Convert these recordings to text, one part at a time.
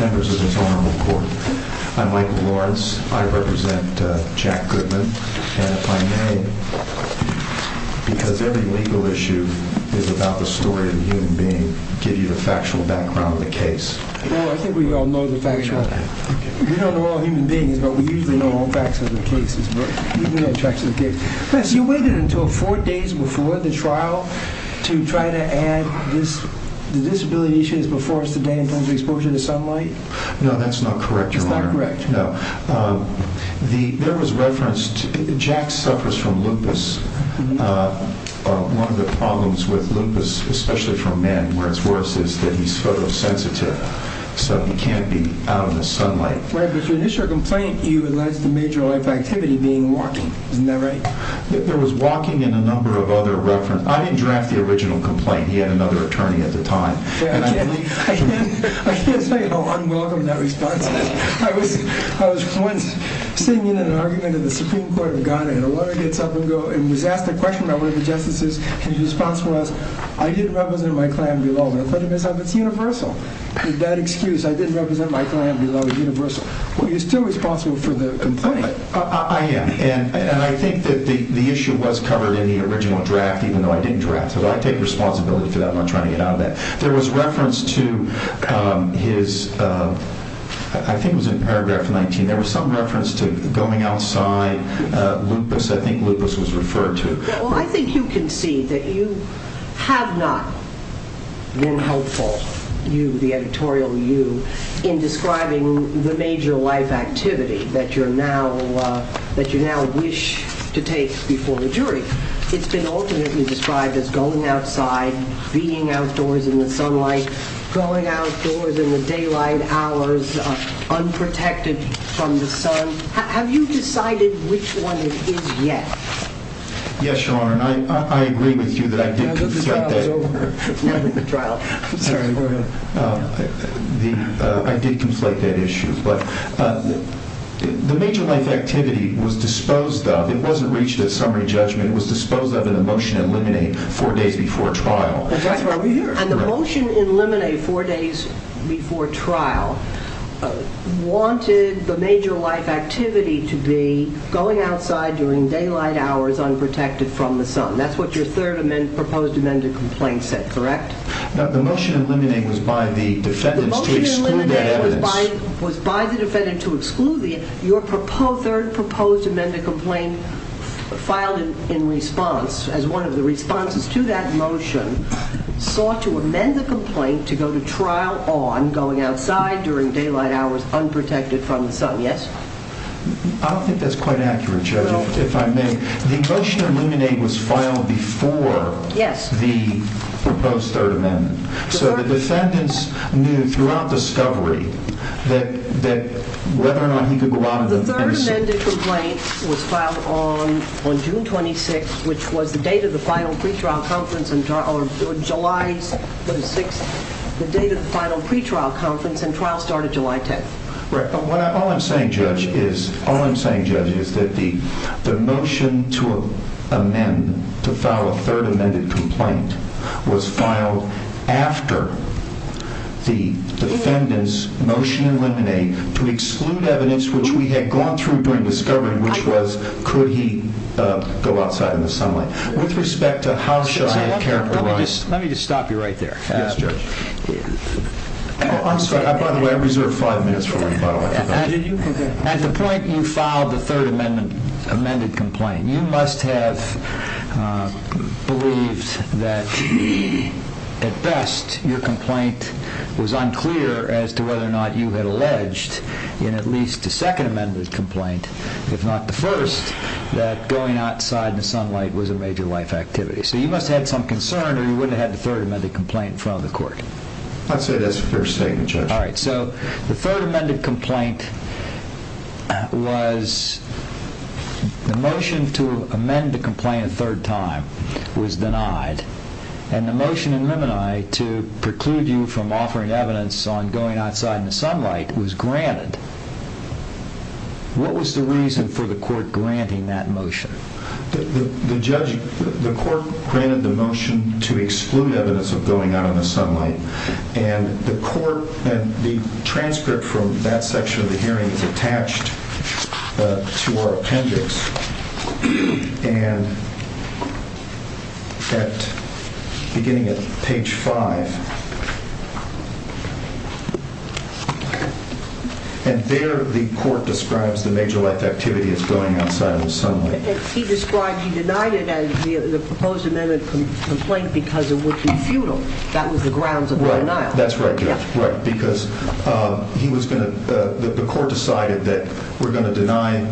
Members of this Honorable Court, I'm Michael Lawrence. I represent Jack Goodman. And if I may, because every legal issue is about the story of a human being, give you the factual background of the case. Well, I think we all know the factual. We don't know all human beings, but we usually know all facts of the cases. You waited until four days before the trial to try to add the disability issues before us today in terms of exposure to sunlight? No, that's not correct, Your Honor. Jack suffers from lupus. One of the problems with lupus, especially for men, where it's worse, is that he's photosensitive, so he can't be out in the sunlight. Right, but your initial complaint, you alleged to major life activity being walking. Isn't that right? There was walking and a number of other references. I didn't draft the original complaint. He had another attorney at the time. I can't tell you how unwelcome that response is. I was once sitting in an argument in the Supreme Court of Ghana, and a lawyer gets up and was asked a question by one of the justices, and his response was, I didn't represent my clan below. And I thought to myself, it's universal. With that excuse, I didn't represent my clan below, it's universal. Well, you're still responsible for the complaint. I am, and I think that the issue was covered in the original draft, even though I didn't draft it. I take responsibility for not trying to get out of that. There was reference to his, I think it was in paragraph 19, there was some reference to going outside, lupus, I think lupus was referred to. Well, I think you can see that you have not been helpful, you, the editorial you, in describing the major life activity that you now wish to take before the jury. It's been alternately described as going outside, being outdoors in the sunlight, going outdoors in the daylight hours, unprotected from the sun. Have you decided which one it is yet? Yes, Your Honor, and I agree with you that I did conflict that issue. The major life activity was disposed of, it wasn't reached at summary judgment, it was disposed of in the motion to eliminate four days before trial. And the motion to eliminate four days before trial wanted the major life activity to be going outside during daylight hours unprotected from the sun. That's what your third proposed amended complaint said, correct? No, the motion to eliminate was by the defendants to exclude that evidence. Your third proposed amended complaint filed in response, as one of the responses to that motion, sought to amend the complaint to go to trial on going outside during daylight hours unprotected from the sun, yes? I don't think that's quite accurate, Judge, if I may. The motion to eliminate was filed before the proposed third amendment. So the defendants knew throughout discovery that whether or not he could go out on the 26th. The third amended complaint was filed on June 26th, which was the date of the final pre-trial conference, or July 6th, the date of the final pre-trial conference, and trial started July 10th. All I'm saying, Judge, is that the motion to amend, to file a third amended complaint, was filed after the defendants' motion to eliminate to exclude evidence which we had gone through during discovery, which was could he go outside in the sunlight. Let me just stop you right there. Yes, Judge. I'm sorry, by the way, I reserved five minutes for you. At the point you filed the third amended complaint, you must have believed that at best your complaint was unclear as to whether or not you had alleged in at least the second amended complaint, if not the first, that going outside in the sunlight was a major life activity. So you must have had some concern or you wouldn't have had the third amended complaint in front of the court. I'd say that's a fair statement, Judge. All right, so the third amended complaint was the motion to amend the complaint a third time was denied, and the motion in Mimini to preclude you from offering evidence on going outside in the sunlight was granted. What was the reason for the court granting that motion? The court granted the motion to exclude evidence of going out in the sunlight, and the transcript from that section of the hearing is attached to our appendix. And beginning at page five, and there the court describes the major life activity as going outside in the sunlight. He described he denied it as the proposed amended complaint because it would be futile. That was the grounds of the denial. That's right, Judge, because he was going to, the court decided that we're going to deny,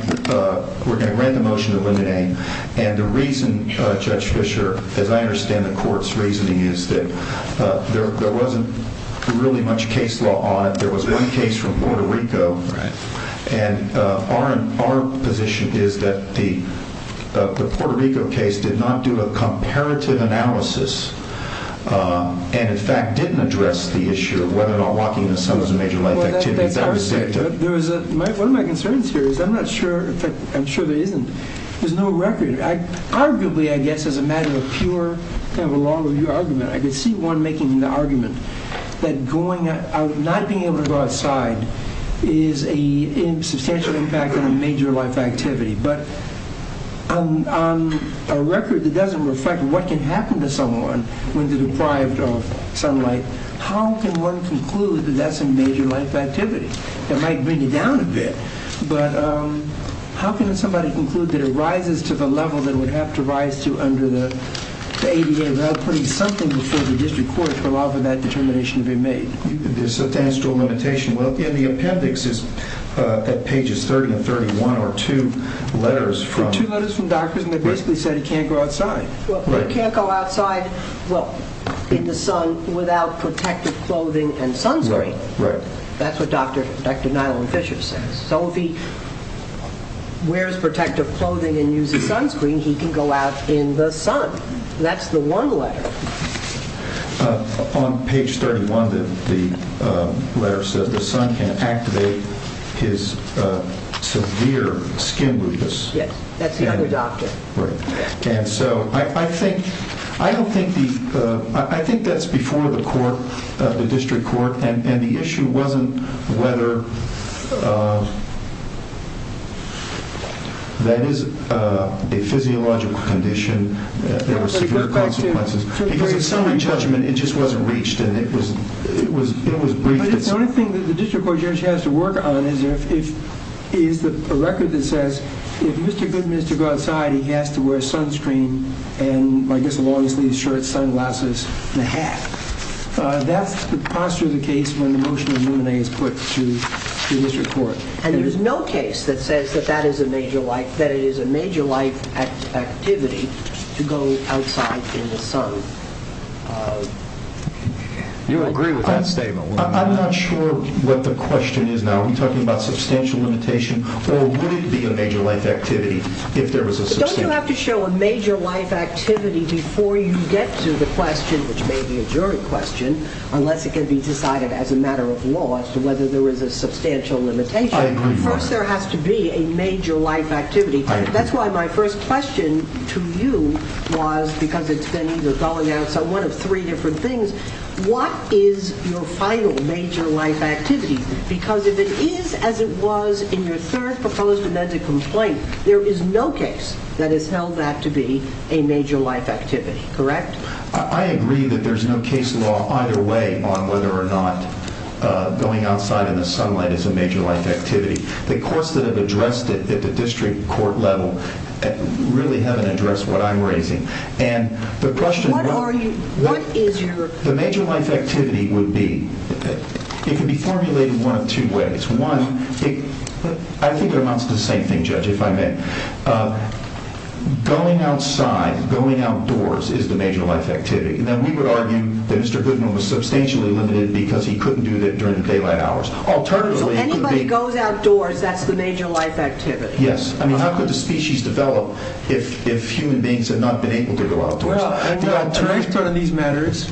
we're going to grant the motion to rename. And the reason, Judge Fisher, as I understand the court's reasoning is that there wasn't really much case law on it. There was one case from Puerto Rico, and our position is that the Puerto Rico case did not do a comparative analysis, and in fact didn't address the issue of whether or not walking in the sun was a major life activity. One of my concerns here is I'm not sure, in fact I'm sure there isn't, there's no record. Arguably, I guess as a matter of pure kind of a law review argument, I could see one making the argument that going out, not being able to go outside is a substantial impact on a major life activity. But on a record that doesn't reflect what can happen to someone when they're deprived of sunlight, how can one conclude that that's a major life activity? It might bring you down a bit, but how can somebody conclude that it rises to the level that it would have to rise to under the ADA without putting something before the district court to allow for that determination to be made? The appendix is at pages 30 and 31, or two letters from doctors, and they basically said he can't go outside. He can't go outside in the sun without protective clothing and sunscreen. That's what Dr. Nyland Fisher says. So if he wears protective clothing and uses sunscreen, he can go out in the sun. That's the one letter. On page 31, the letter says the sun can activate his severe skin weakness. Yes, that's the other doctor. And so I think that's before the court, the district court, and the issue wasn't whether that is a physiological condition. Because in summary judgment, it just wasn't reached, and it was briefed. The only thing that the district court judge has to work on is a record that says if Mr. Goodman is to go outside, he has to wear sunscreen and, I guess, long-sleeved shirts, sunglasses, and a hat. That's the posture of the case when the motion of Mooney is put to district court. And there is no case that says that it is a major life activity to go outside in the sun. You agree with that statement? I'm not sure what the question is now. Are we talking about substantial limitation, or would it be a major life activity if there was a substantial limitation? Don't you have to show a major life activity before you get to the question, which may be a jury question, unless it can be decided as a matter of law as to whether there is a substantial limitation. First, there has to be a major life activity. That's why my first question to you was, because it's been either going out or one of three different things, what is your final major life activity? Because if it is as it was in your third proposed amendment complaint, there is no case that has held that to be a major life activity, correct? I agree that there's no case law either way on whether or not going outside in the sunlight is a major life activity. The courts that have addressed it at the district court level really haven't addressed what I'm raising. The major life activity would be, it could be formulated one of two ways. One, I think it amounts to the same thing, Judge, if I may. Going outside, going outdoors is the major life activity. We would argue that Mr. Goodman was substantially limited because he couldn't do that during the daylight hours. So anybody who goes outdoors, that's the major life activity? Yes. How could the species develop if human beings had not been able to go outdoors? Well, to respond to these matters,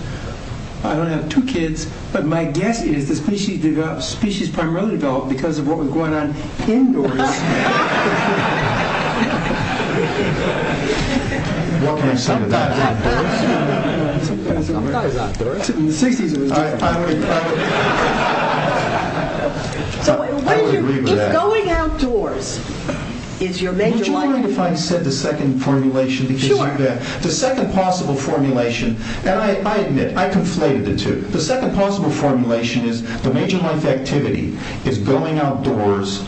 I only have two kids, but my guess is the species primarily developed because of what was going on indoors. What can I say to that? I'm not as outdoors. In the 60s it was different. I would agree with that. So going outdoors is your major life activity. Would you mind if I said the second formulation that gives you that? Sure. The second possible formulation, and I admit, I conflated the two. The second possible formulation is the major life activity is going outdoors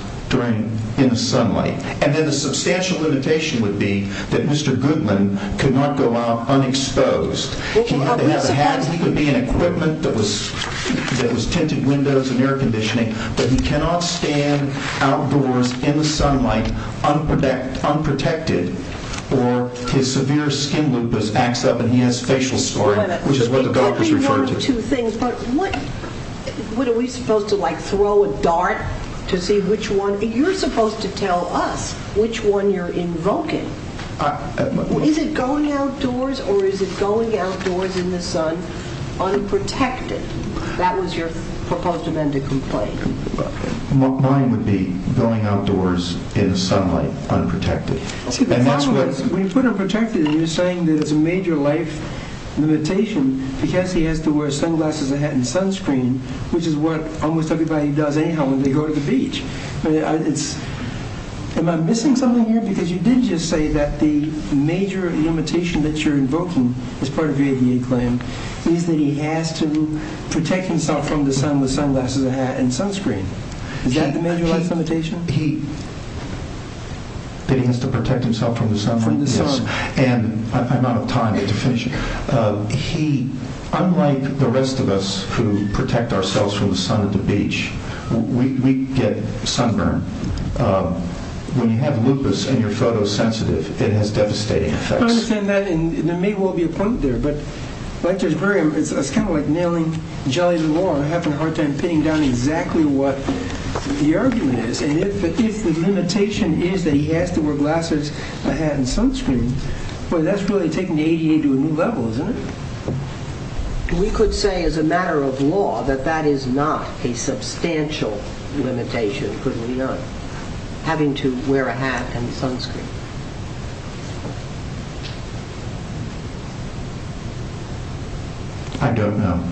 in the sunlight. And then the substantial limitation would be that Mr. Goodman could not go out unexposed. He could be in equipment that was tinted windows and air conditioning, but he cannot stand outdoors in the sunlight unprotected or his severe skin lupus acts up and he has facial scarring, which is what the doctors referred to. Wait a minute. What are we supposed to, like, throw a dart to see which one? You're supposed to tell us which one you're invoking. Is it going outdoors or is it going outdoors in the sun unprotected? That was your proposed amended complaint. Mine would be going outdoors in the sunlight unprotected. See, the problem is when you put unprotected, you're saying that it's a major life limitation because he has to wear sunglasses, a hat, and sunscreen, which is what almost everybody does anyhow when they go to the beach. Am I missing something here? Because you did just say that the major limitation that you're invoking as part of your VA claim is that he has to protect himself from the sun with sunglasses, a hat, and sunscreen. Is that the major life limitation? That he has to protect himself from the sun? From the sun. I'm out of time to finish. Unlike the rest of us who protect ourselves from the sun at the beach, we get sunburn. When you have lupus and you're photosensitive, it has devastating effects. I understand that, and there may well be a point there, but it's kind of like nailing jelly in the wall or having a hard time pinning down exactly what the argument is. If the limitation is that he has to wear glasses, a hat, and sunscreen, boy, that's really taking the ADA to a new level, isn't it? We could say as a matter of law that that is not a substantial limitation, could we not, having to wear a hat and sunscreen. I don't know.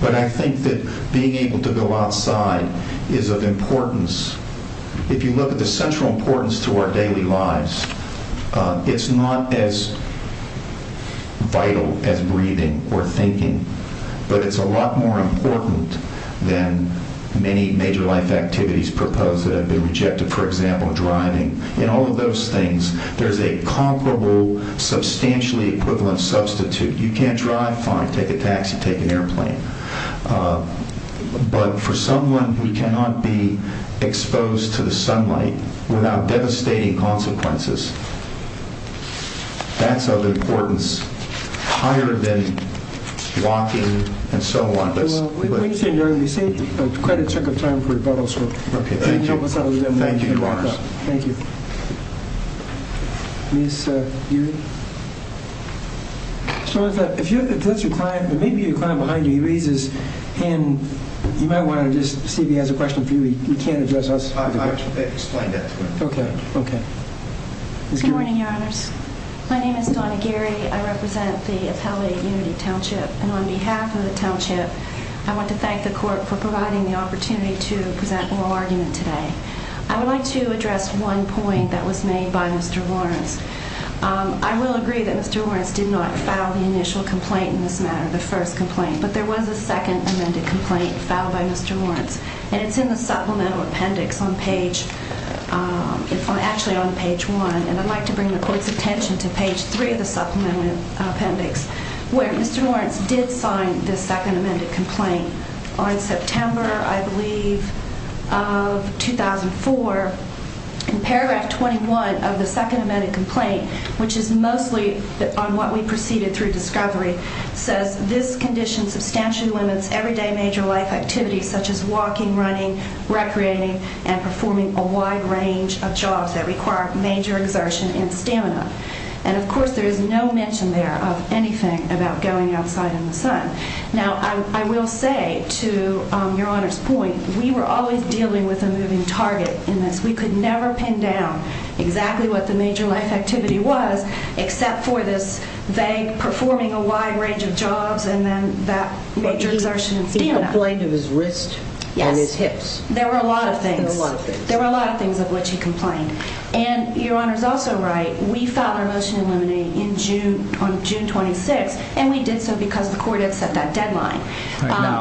But I think that being able to go outside is of importance. If you look at the central importance to our daily lives, it's not as vital as breathing or thinking, but it's a lot more important than many major life activities proposed that have been rejected. For example, driving. In all of those things, there's a comparable, substantially equivalent substitute. You can't drive? Fine, take a taxi, take an airplane. But for someone who cannot be exposed to the sunlight without devastating consequences, that's of importance higher than walking and so on. We saved quite a chunk of time for rebuttals. Thank you, Your Honors. Thank you. Ms. Geary? If that's your client, there may be a client behind you. He raises his hand. You might want to just see if he has a question for you. He can't address us. I explained that to him. Okay, okay. Good morning, Your Honors. My name is Donna Geary. I represent the Appellate Unity Township. And on behalf of the township, I want to thank the court for providing the opportunity to present oral argument today. I would like to address one point that was made by Mr. Lawrence. I will agree that Mr. Lawrence did not file the initial complaint in this matter, the first complaint. But there was a second amended complaint filed by Mr. Lawrence, and it's in the supplemental appendix on page one. And I'd like to bring the court's attention to page three of the supplemental appendix, where Mr. Lawrence did sign the second amended complaint. On September, I believe, of 2004, in paragraph 21 of the second amended complaint, which is mostly on what we preceded through discovery, says this condition substantially limits everyday major life activities such as walking, running, recreating, and performing a wide range of jobs that require major exertion in stamina. And, of course, there is no mention there of anything about going outside in the sun. Now, I will say, to Your Honor's point, we were always dealing with a moving target in this. We could never pin down exactly what the major life activity was, except for this vague performing a wide range of jobs and then that major exertion in stamina. He complained of his wrist and his hips. There were a lot of things. There were a lot of things. There were a lot of things of which he complained. And Your Honor is also right. We filed our motion to eliminate on June 26, and we did so because the court had set that deadline.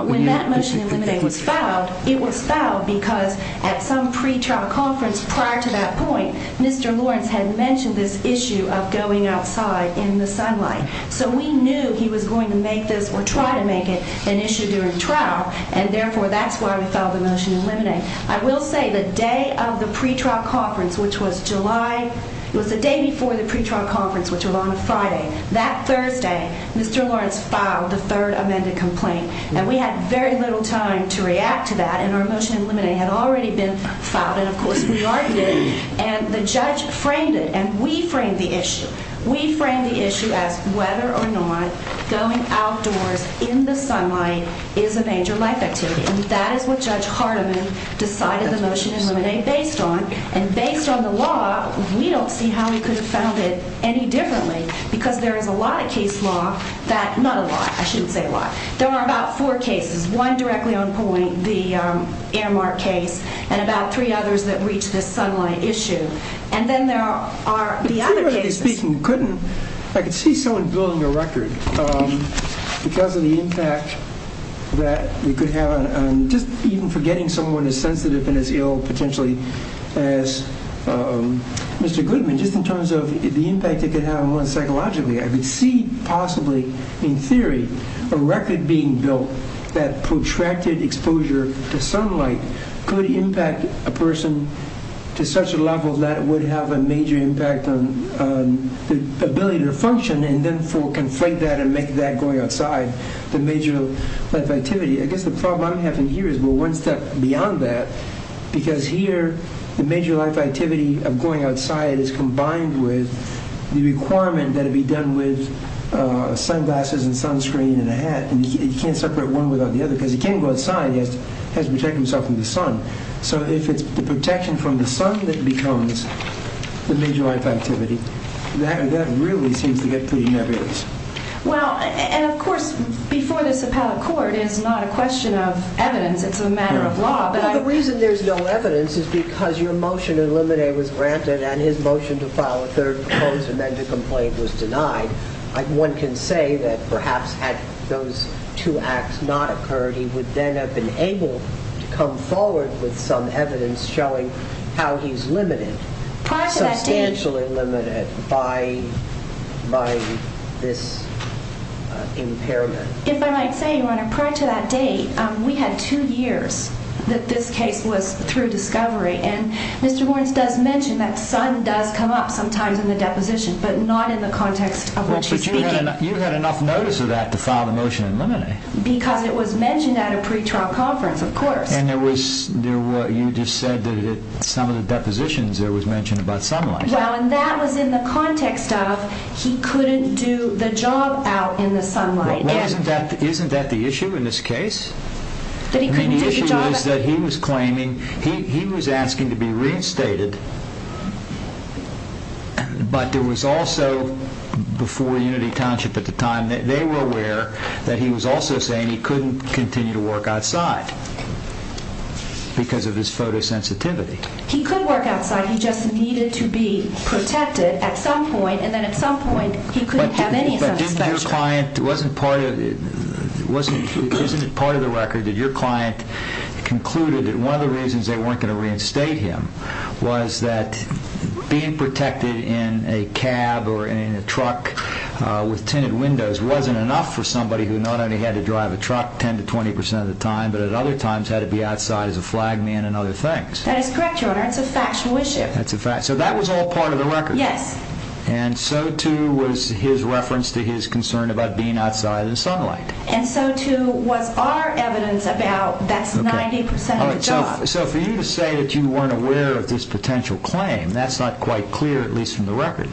When that motion to eliminate was filed, it was filed because at some pre-trial conference prior to that point, Mr. Lawrence had mentioned this issue of going outside in the sunlight. So we knew he was going to make this or try to make it an issue during trial, and, therefore, that's why we filed the motion to eliminate. I will say the day of the pre-trial conference, which was July, it was the day before the pre-trial conference, which was on a Friday. That Thursday, Mr. Lawrence filed the third amended complaint, and we had very little time to react to that, and our motion to eliminate had already been filed. And, of course, we argued it, and the judge framed it, and we framed the issue. We framed the issue as whether or not going outdoors in the sunlight is a major life activity. And that is what Judge Hardiman decided the motion to eliminate based on. And based on the law, we don't see how he could have found it any differently, because there is a lot of case law that—not a lot, I shouldn't say a lot. There are about four cases, one directly on point, the Aramark case, and about three others that reach this sunlight issue. And then there are the other cases. I could see someone building a record because of the impact that it could have on just even forgetting someone as sensitive and as ill potentially as Mr. Goodman, just in terms of the impact it could have on one psychologically. I could see possibly, in theory, a record being built that protracted exposure to sunlight could impact a person to such a level that it would have a major impact on the ability to function and, therefore, conflate that and make that going outside the major life activity. I guess the problem I'm having here is we're one step beyond that, because here the major life activity of going outside is combined with the requirement that it be done with sunglasses and sunscreen and a hat. And you can't separate one without the other, because he can't go outside. He has to protect himself from the sun. So if it's the protection from the sun that becomes the major life activity, that really seems to get pretty nebulous. Well, and, of course, before this appellate court, it's not a question of evidence. It's a matter of law. The reason there's no evidence is because your motion in Limine was granted and his motion to file a third proposal and then to complain was denied. One can say that perhaps had those two acts not occurred, he would then have been able to come forward with some evidence showing how he's limited, substantially limited by this impairment. If I might say, Your Honor, prior to that date, we had two years that this case was through discovery, and Mr. Warrens does mention that sun does come up sometimes in the deposition, but not in the context of what she's speaking. Well, but you had enough notice of that to file the motion in Limine. Because it was mentioned at a pretrial conference, of course. And you just said that at some of the depositions there was mention about sunlight. Well, and that was in the context of he couldn't do the job out in the sunlight. Isn't that the issue in this case? The issue is that he was claiming, he was asking to be reinstated, but there was also, before Unity Township at the time, they were aware that he was also saying he couldn't continue to work outside because of his photosensitivity. He could work outside, he just needed to be protected at some point, and then at some point he couldn't have any of that exposure. But isn't it part of the record that your client concluded that one of the reasons they weren't going to reinstate him was that being protected in a cab or in a truck with tinted windows wasn't enough for somebody who not only had to drive a truck 10 to 20 percent of the time, but at other times had to be outside as a flag man and other things? That is correct, Your Honor. It's a factual issue. So that was all part of the record? Yes. And so too was his reference to his concern about being outside in the sunlight? And so too was our evidence about that's 90 percent of the job. So for you to say that you weren't aware of this potential claim, that's not quite clear, at least from the record.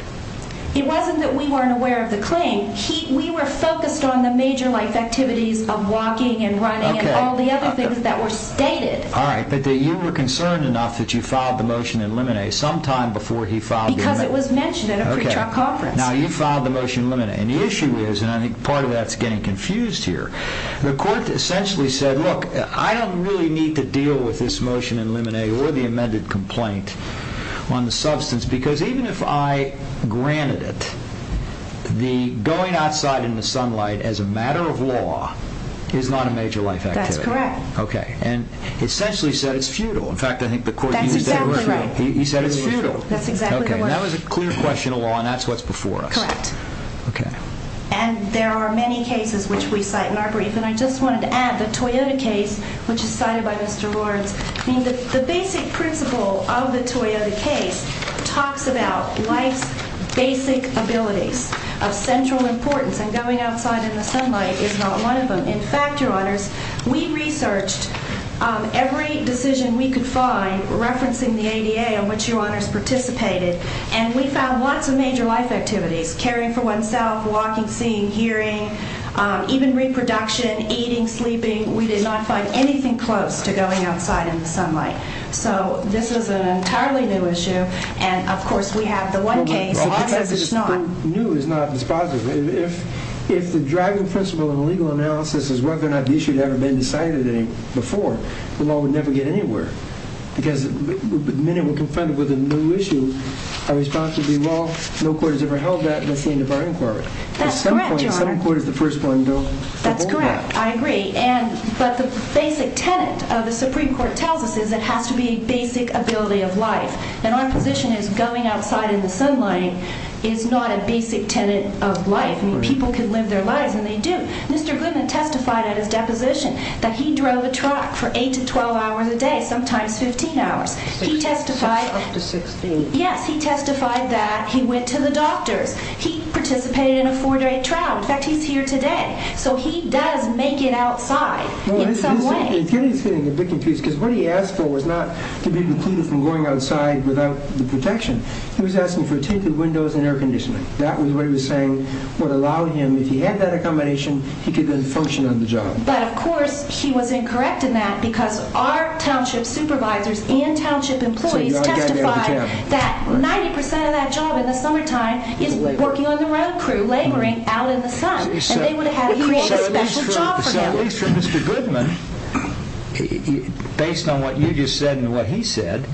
It wasn't that we weren't aware of the claim. We were focused on the major life activities of walking and running and all the other things that were stated. All right, but you were concerned enough that you filed the motion in limine sometime before he filed the motion. Because it was mentioned at a pre-trial conference. Now you filed the motion in limine, and the issue is, and I think part of that is getting confused here, the court essentially said, look, I don't really need to deal with this motion in limine or the amended complaint on the substance because even if I granted it, the going outside in the sunlight as a matter of law is not a major life activity. That's correct. Okay, and essentially said it's futile. In fact, I think the court used that word futile. That's exactly right. He said it's futile. That's exactly the word. Okay, and that was a clear question of law, and that's what's before us. Correct. Okay. And there are many cases which we cite in our brief, and I just wanted to add the Toyota case, which is cited by Mr. Lourdes. The basic principle of the Toyota case talks about life's basic abilities of central importance, and going outside in the sunlight is not one of them. In fact, Your Honors, we researched every decision we could find referencing the ADA on which Your Honors participated, and we found lots of major life activities, caring for oneself, walking, seeing, hearing, even reproduction, eating, sleeping. We did not find anything close to going outside in the sunlight. So this is an entirely new issue, and, of course, we have the one case. The new is not dispositive. If the driving principle in legal analysis is whether or not the issue had ever been decided before, the law would never get anywhere because the minute we're confronted with a new issue, our response would be, well, no court has ever held that, and that's the end of our inquiry. That's correct, Your Honor. At some point, some court is the first one to hold that. That's correct. I agree. But the basic tenet of the Supreme Court tells us is it has to be a basic ability of life, and our position is going outside in the sunlight is not a basic tenet of life. I mean, people can live their lives, and they do. Mr. Goodman testified at his deposition that he drove a truck for 8 to 12 hours a day, sometimes 15 hours. He testified... Up to 16. Yes, he testified that he went to the doctors. He participated in a four-day trial. In fact, he's here today, so he does make it outside in some way. Well, here he's getting a bit confused because what he asked for was not to be excluded from going outside without the protection. He was asking for tinted windows and air conditioning. That was what he was saying would allow him, if he had that accommodation, he could then function on the job. But, of course, he was incorrect in that because our township supervisors and township employees testified that 90% of that job in the summertime is working on the road crew, laboring out in the sun, and they would have had to create a special job for him. So, at least for Mr. Goodman, based on what you just said and what he said,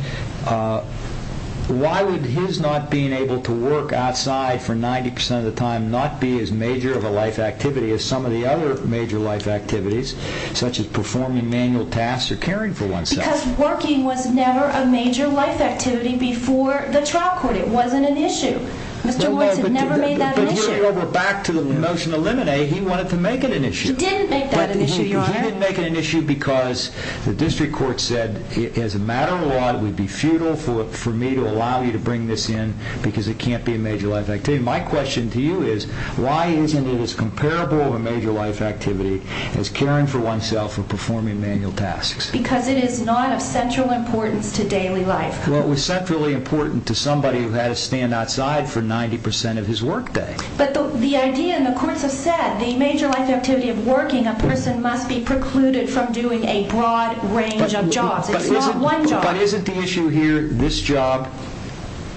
why would his not being able to work outside for 90% of the time not be as major of a life activity as some of the other major life activities, such as performing manual tasks or caring for oneself? Because working was never a major life activity before the trial court. It wasn't an issue. Mr. Woods had never made that an issue. But, here we're back to the motion to eliminate. He wanted to make it an issue. He didn't make that an issue, Your Honor. He didn't make it an issue because the district court said, as a matter of law, it would be futile for me to allow you to bring this in because it can't be a major life activity. My question to you is, why isn't it as comparable of a major life activity as caring for oneself or performing manual tasks? Because it is not of central importance to daily life. Well, it was centrally important to somebody who had to stand outside for 90% of his work day. But the idea, and the courts have said, the major life activity of working, a person must be precluded from doing a broad range of jobs. It's not one job. But isn't the issue here, this job,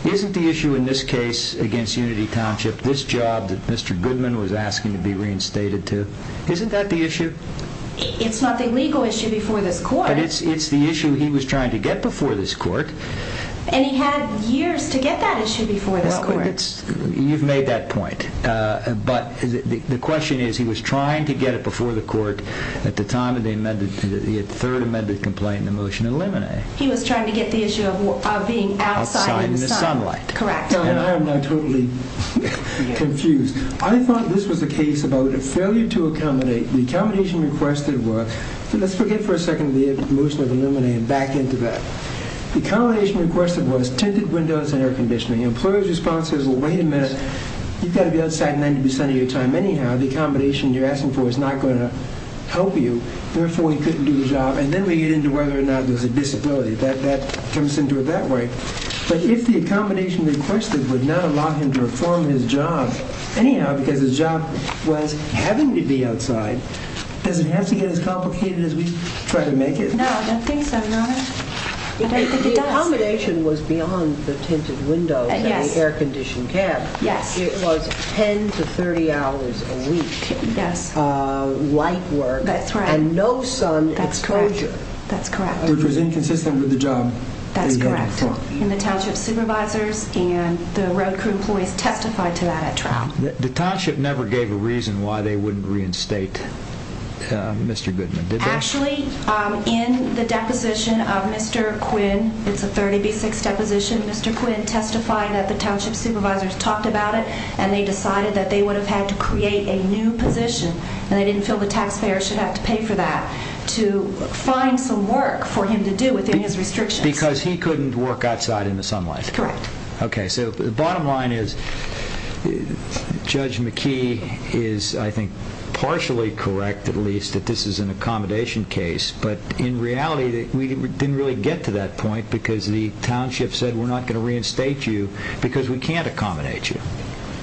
isn't the issue in this case against Unity Township, this job that Mr. Goodman was asking to be reinstated to, isn't that the issue? It's not the legal issue before this court. But it's the issue he was trying to get before this court. And he had years to get that issue before this court. You've made that point. But the question is, he was trying to get it before the court at the time of the third amended complaint in the motion to eliminate. He was trying to get the issue of being outside in the sun. Outside in the sunlight. Correct. And I am now totally confused. I thought this was a case about a failure to accommodate. The accommodation requested was, so let's forget for a second the motion of eliminating and back into that. The accommodation requested was tinted windows and air conditioning. The employer's response is, well, wait a minute. You've got to be outside 90% of your time anyhow. The accommodation you're asking for is not going to help you. Therefore, he couldn't do the job. And then we get into whether or not there's a disability. That comes into it that way. But if the accommodation requested would not allow him to reform his job, anyhow, because his job was having to be outside, does it have to get as complicated as we try to make it? No, I don't think so, Your Honor. I don't think it does. The accommodation was beyond the tinted windows and the air-conditioned cab. Yes. It was 10 to 30 hours a week light work. That's right. And no sun exposure. That's correct. Which was inconsistent with the job that he had to perform. That's correct. And the township supervisors and the road crew employees testified to that at trial. The township never gave a reason why they wouldn't reinstate Mr. Goodman, did they? Actually, in the deposition of Mr. Quinn, it's a 30B6 deposition, Mr. Quinn testified that the township supervisors talked about it and they decided that they would have had to create a new position, and they didn't feel the taxpayer should have to pay for that, to find some work for him to do within his restrictions. Because he couldn't work outside in the sunlight. That's correct. Okay. So the bottom line is Judge McKee is, I think, partially correct, at least, that this is an accommodation case, but in reality we didn't really get to that point because the township said we're not going to reinstate you because we can't accommodate you.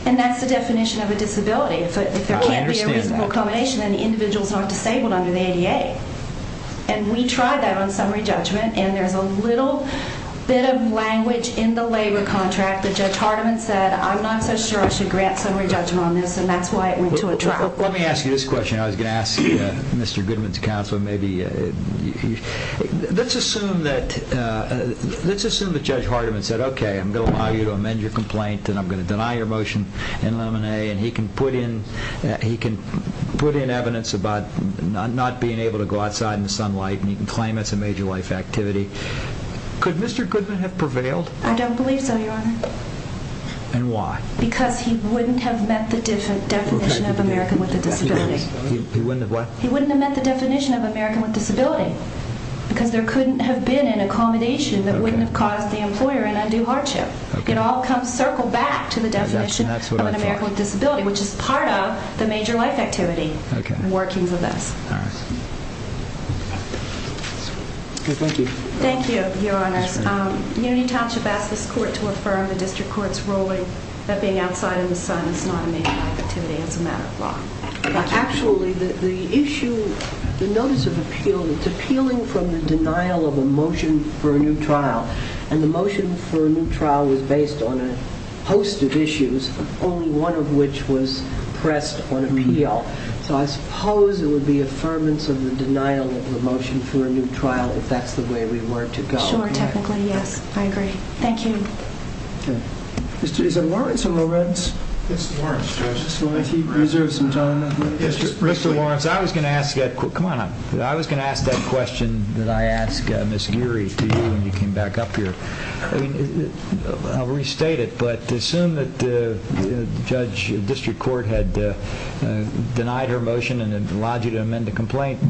And that's the definition of a disability. If there can't be a reasonable accommodation, then the individual is not disabled under the ADA. And we tried that on summary judgment, and there's a little bit of language in the labor contract that Judge Hardiman said, I'm not so sure I should grant summary judgment on this, and that's why it went to a trial. Let me ask you this question. I was going to ask Mr. Goodman's counsel, let's assume that Judge Hardiman said, okay, I'm going to allow you to amend your complaint and I'm going to deny your motion in Lemonet, and he can put in evidence about not being able to go outside in the sunlight and he can claim it's a major life activity. Could Mr. Goodman have prevailed? I don't believe so, Your Honor. And why? Because he wouldn't have met the definition of American with a disability. He wouldn't have what? He wouldn't have met the definition of American with a disability because there couldn't have been an accommodation that wouldn't have caused the employer an undue hardship. It all comes circled back to the definition of an American with a disability, which is part of the major life activity. Okay. Working with us. All right. Okay, thank you. Thank you, Your Honors. You need to ask this court to affirm the district court's ruling that being outside in the sun is not a major life activity, it's a matter of law. Actually, the issue, the notice of appeal, it's appealing from the denial of a motion for a new trial, and the motion for a new trial was based on a host of issues, only one of which was pressed on appeal. So I suppose it would be affirmance of the denial of a motion for a new trial if that's the way we were to go, correct? Sure, technically, yes. I agree. Thank you. Okay. Is it Lawrence or Lorenz? It's Lawrence, Judge. I just wanted to reserve some time. Mr. Lawrence, I was going to ask that question that I asked Ms. Geary to you when you came back up here. I'll restate it, but assume that the district court had denied her motion and allowed you to amend the complaint,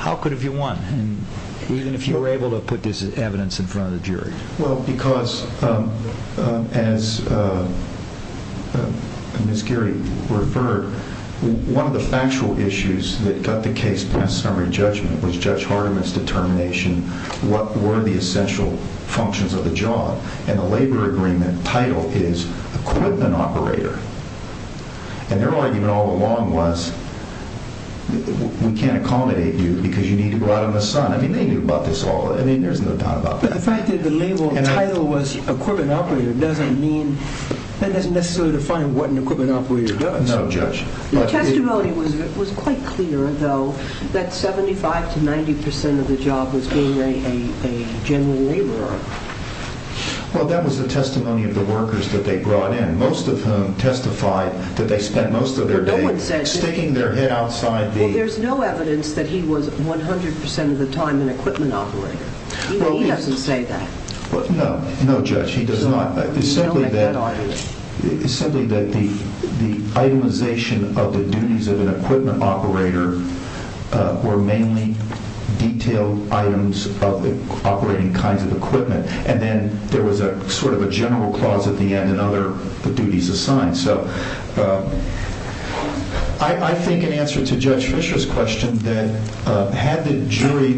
how could have you won, even if you were able to put this evidence in front of the jury? Well, because as Ms. Geary referred, one of the factual issues that got the case past summary judgment was Judge Hardiman's determination what were the essential functions of the job. And the labor agreement title is equipment operator. And their argument all along was we can't accommodate you because you need to go out in the sun. I mean, they knew about this all. I mean, there's no doubt about that. But the fact that the label title was equipment operator doesn't mean that doesn't necessarily define what an equipment operator does. No, Judge. The testimony was quite clear, though, that 75% to 90% of the job was being a general laborer. Well, that was the testimony of the workers that they brought in, most of whom testified that they spent most of their days sticking their head outside the— Well, there's no evidence that he was 100% of the time an equipment operator. He doesn't say that. No, Judge, he does not. It's simply that the itemization of the duties of an equipment operator were mainly detailed items of operating kinds of equipment. And then there was sort of a general clause at the end, and other duties assigned. So I think in answer to Judge Fisher's question, that had the jury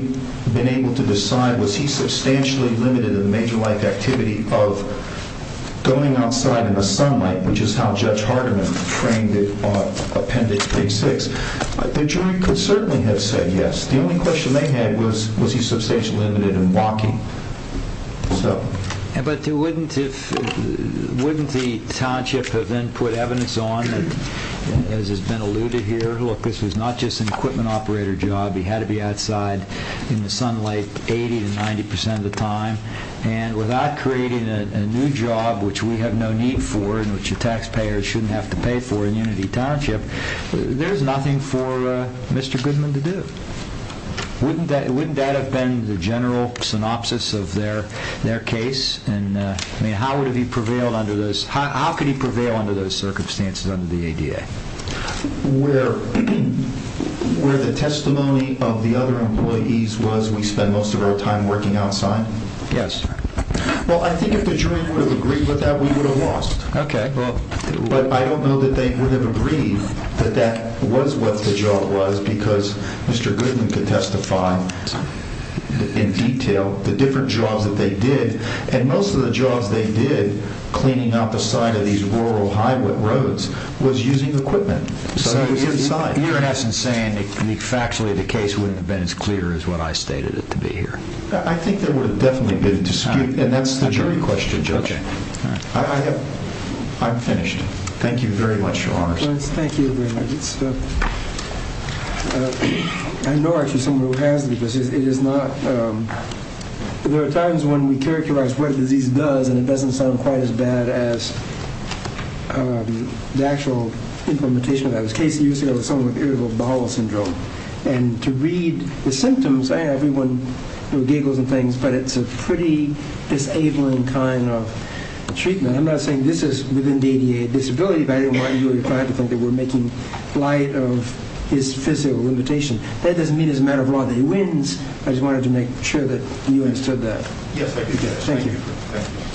been able to decide was he substantially limited in the major life activity of going outside in the sunlight, which is how Judge Hardeman framed it on Appendix A-6, the jury could certainly have said yes. The only question they had was was he substantially limited in walking. But wouldn't the township have then put evidence on, as has been alluded here, look, this was not just an equipment operator job. He had to be outside in the sunlight 80% to 90% of the time. And without creating a new job, which we have no need for and which the taxpayers shouldn't have to pay for in Unity Township, there's nothing for Mr. Goodman to do. Wouldn't that have been the general synopsis of their case? I mean, how could he prevail under those circumstances under the ADA? Where the testimony of the other employees was we spend most of our time working outside? Yes. Well, I think if the jury would have agreed with that, we would have lost. Okay. But I don't know that they would have agreed that that was what the job was because Mr. Goodman could testify in detail the different jobs that they did. And most of the jobs they did cleaning up the side of these rural highway roads was using equipment. So he was inside. You're saying that factually the case wouldn't have been as clear as when I stated it to be here. And that's the jury question, Judge. I'm finished. Thank you very much, Your Honors. Thank you very much. I know actually someone who has this. It is not... There are times when we characterize what a disease does and it doesn't sound quite as bad as the actual implementation of that. There was a case years ago with someone with irritable bowel syndrome. And to read the symptoms, everyone giggles and things, but it's a pretty disabling kind of treatment. I'm not saying this is within the ADA disability, but I don't want you or your client to think that we're making light of his physical limitation. That doesn't mean as a matter of law that he wins. I just wanted to make sure that you understood that. Yes, I do. Thank you.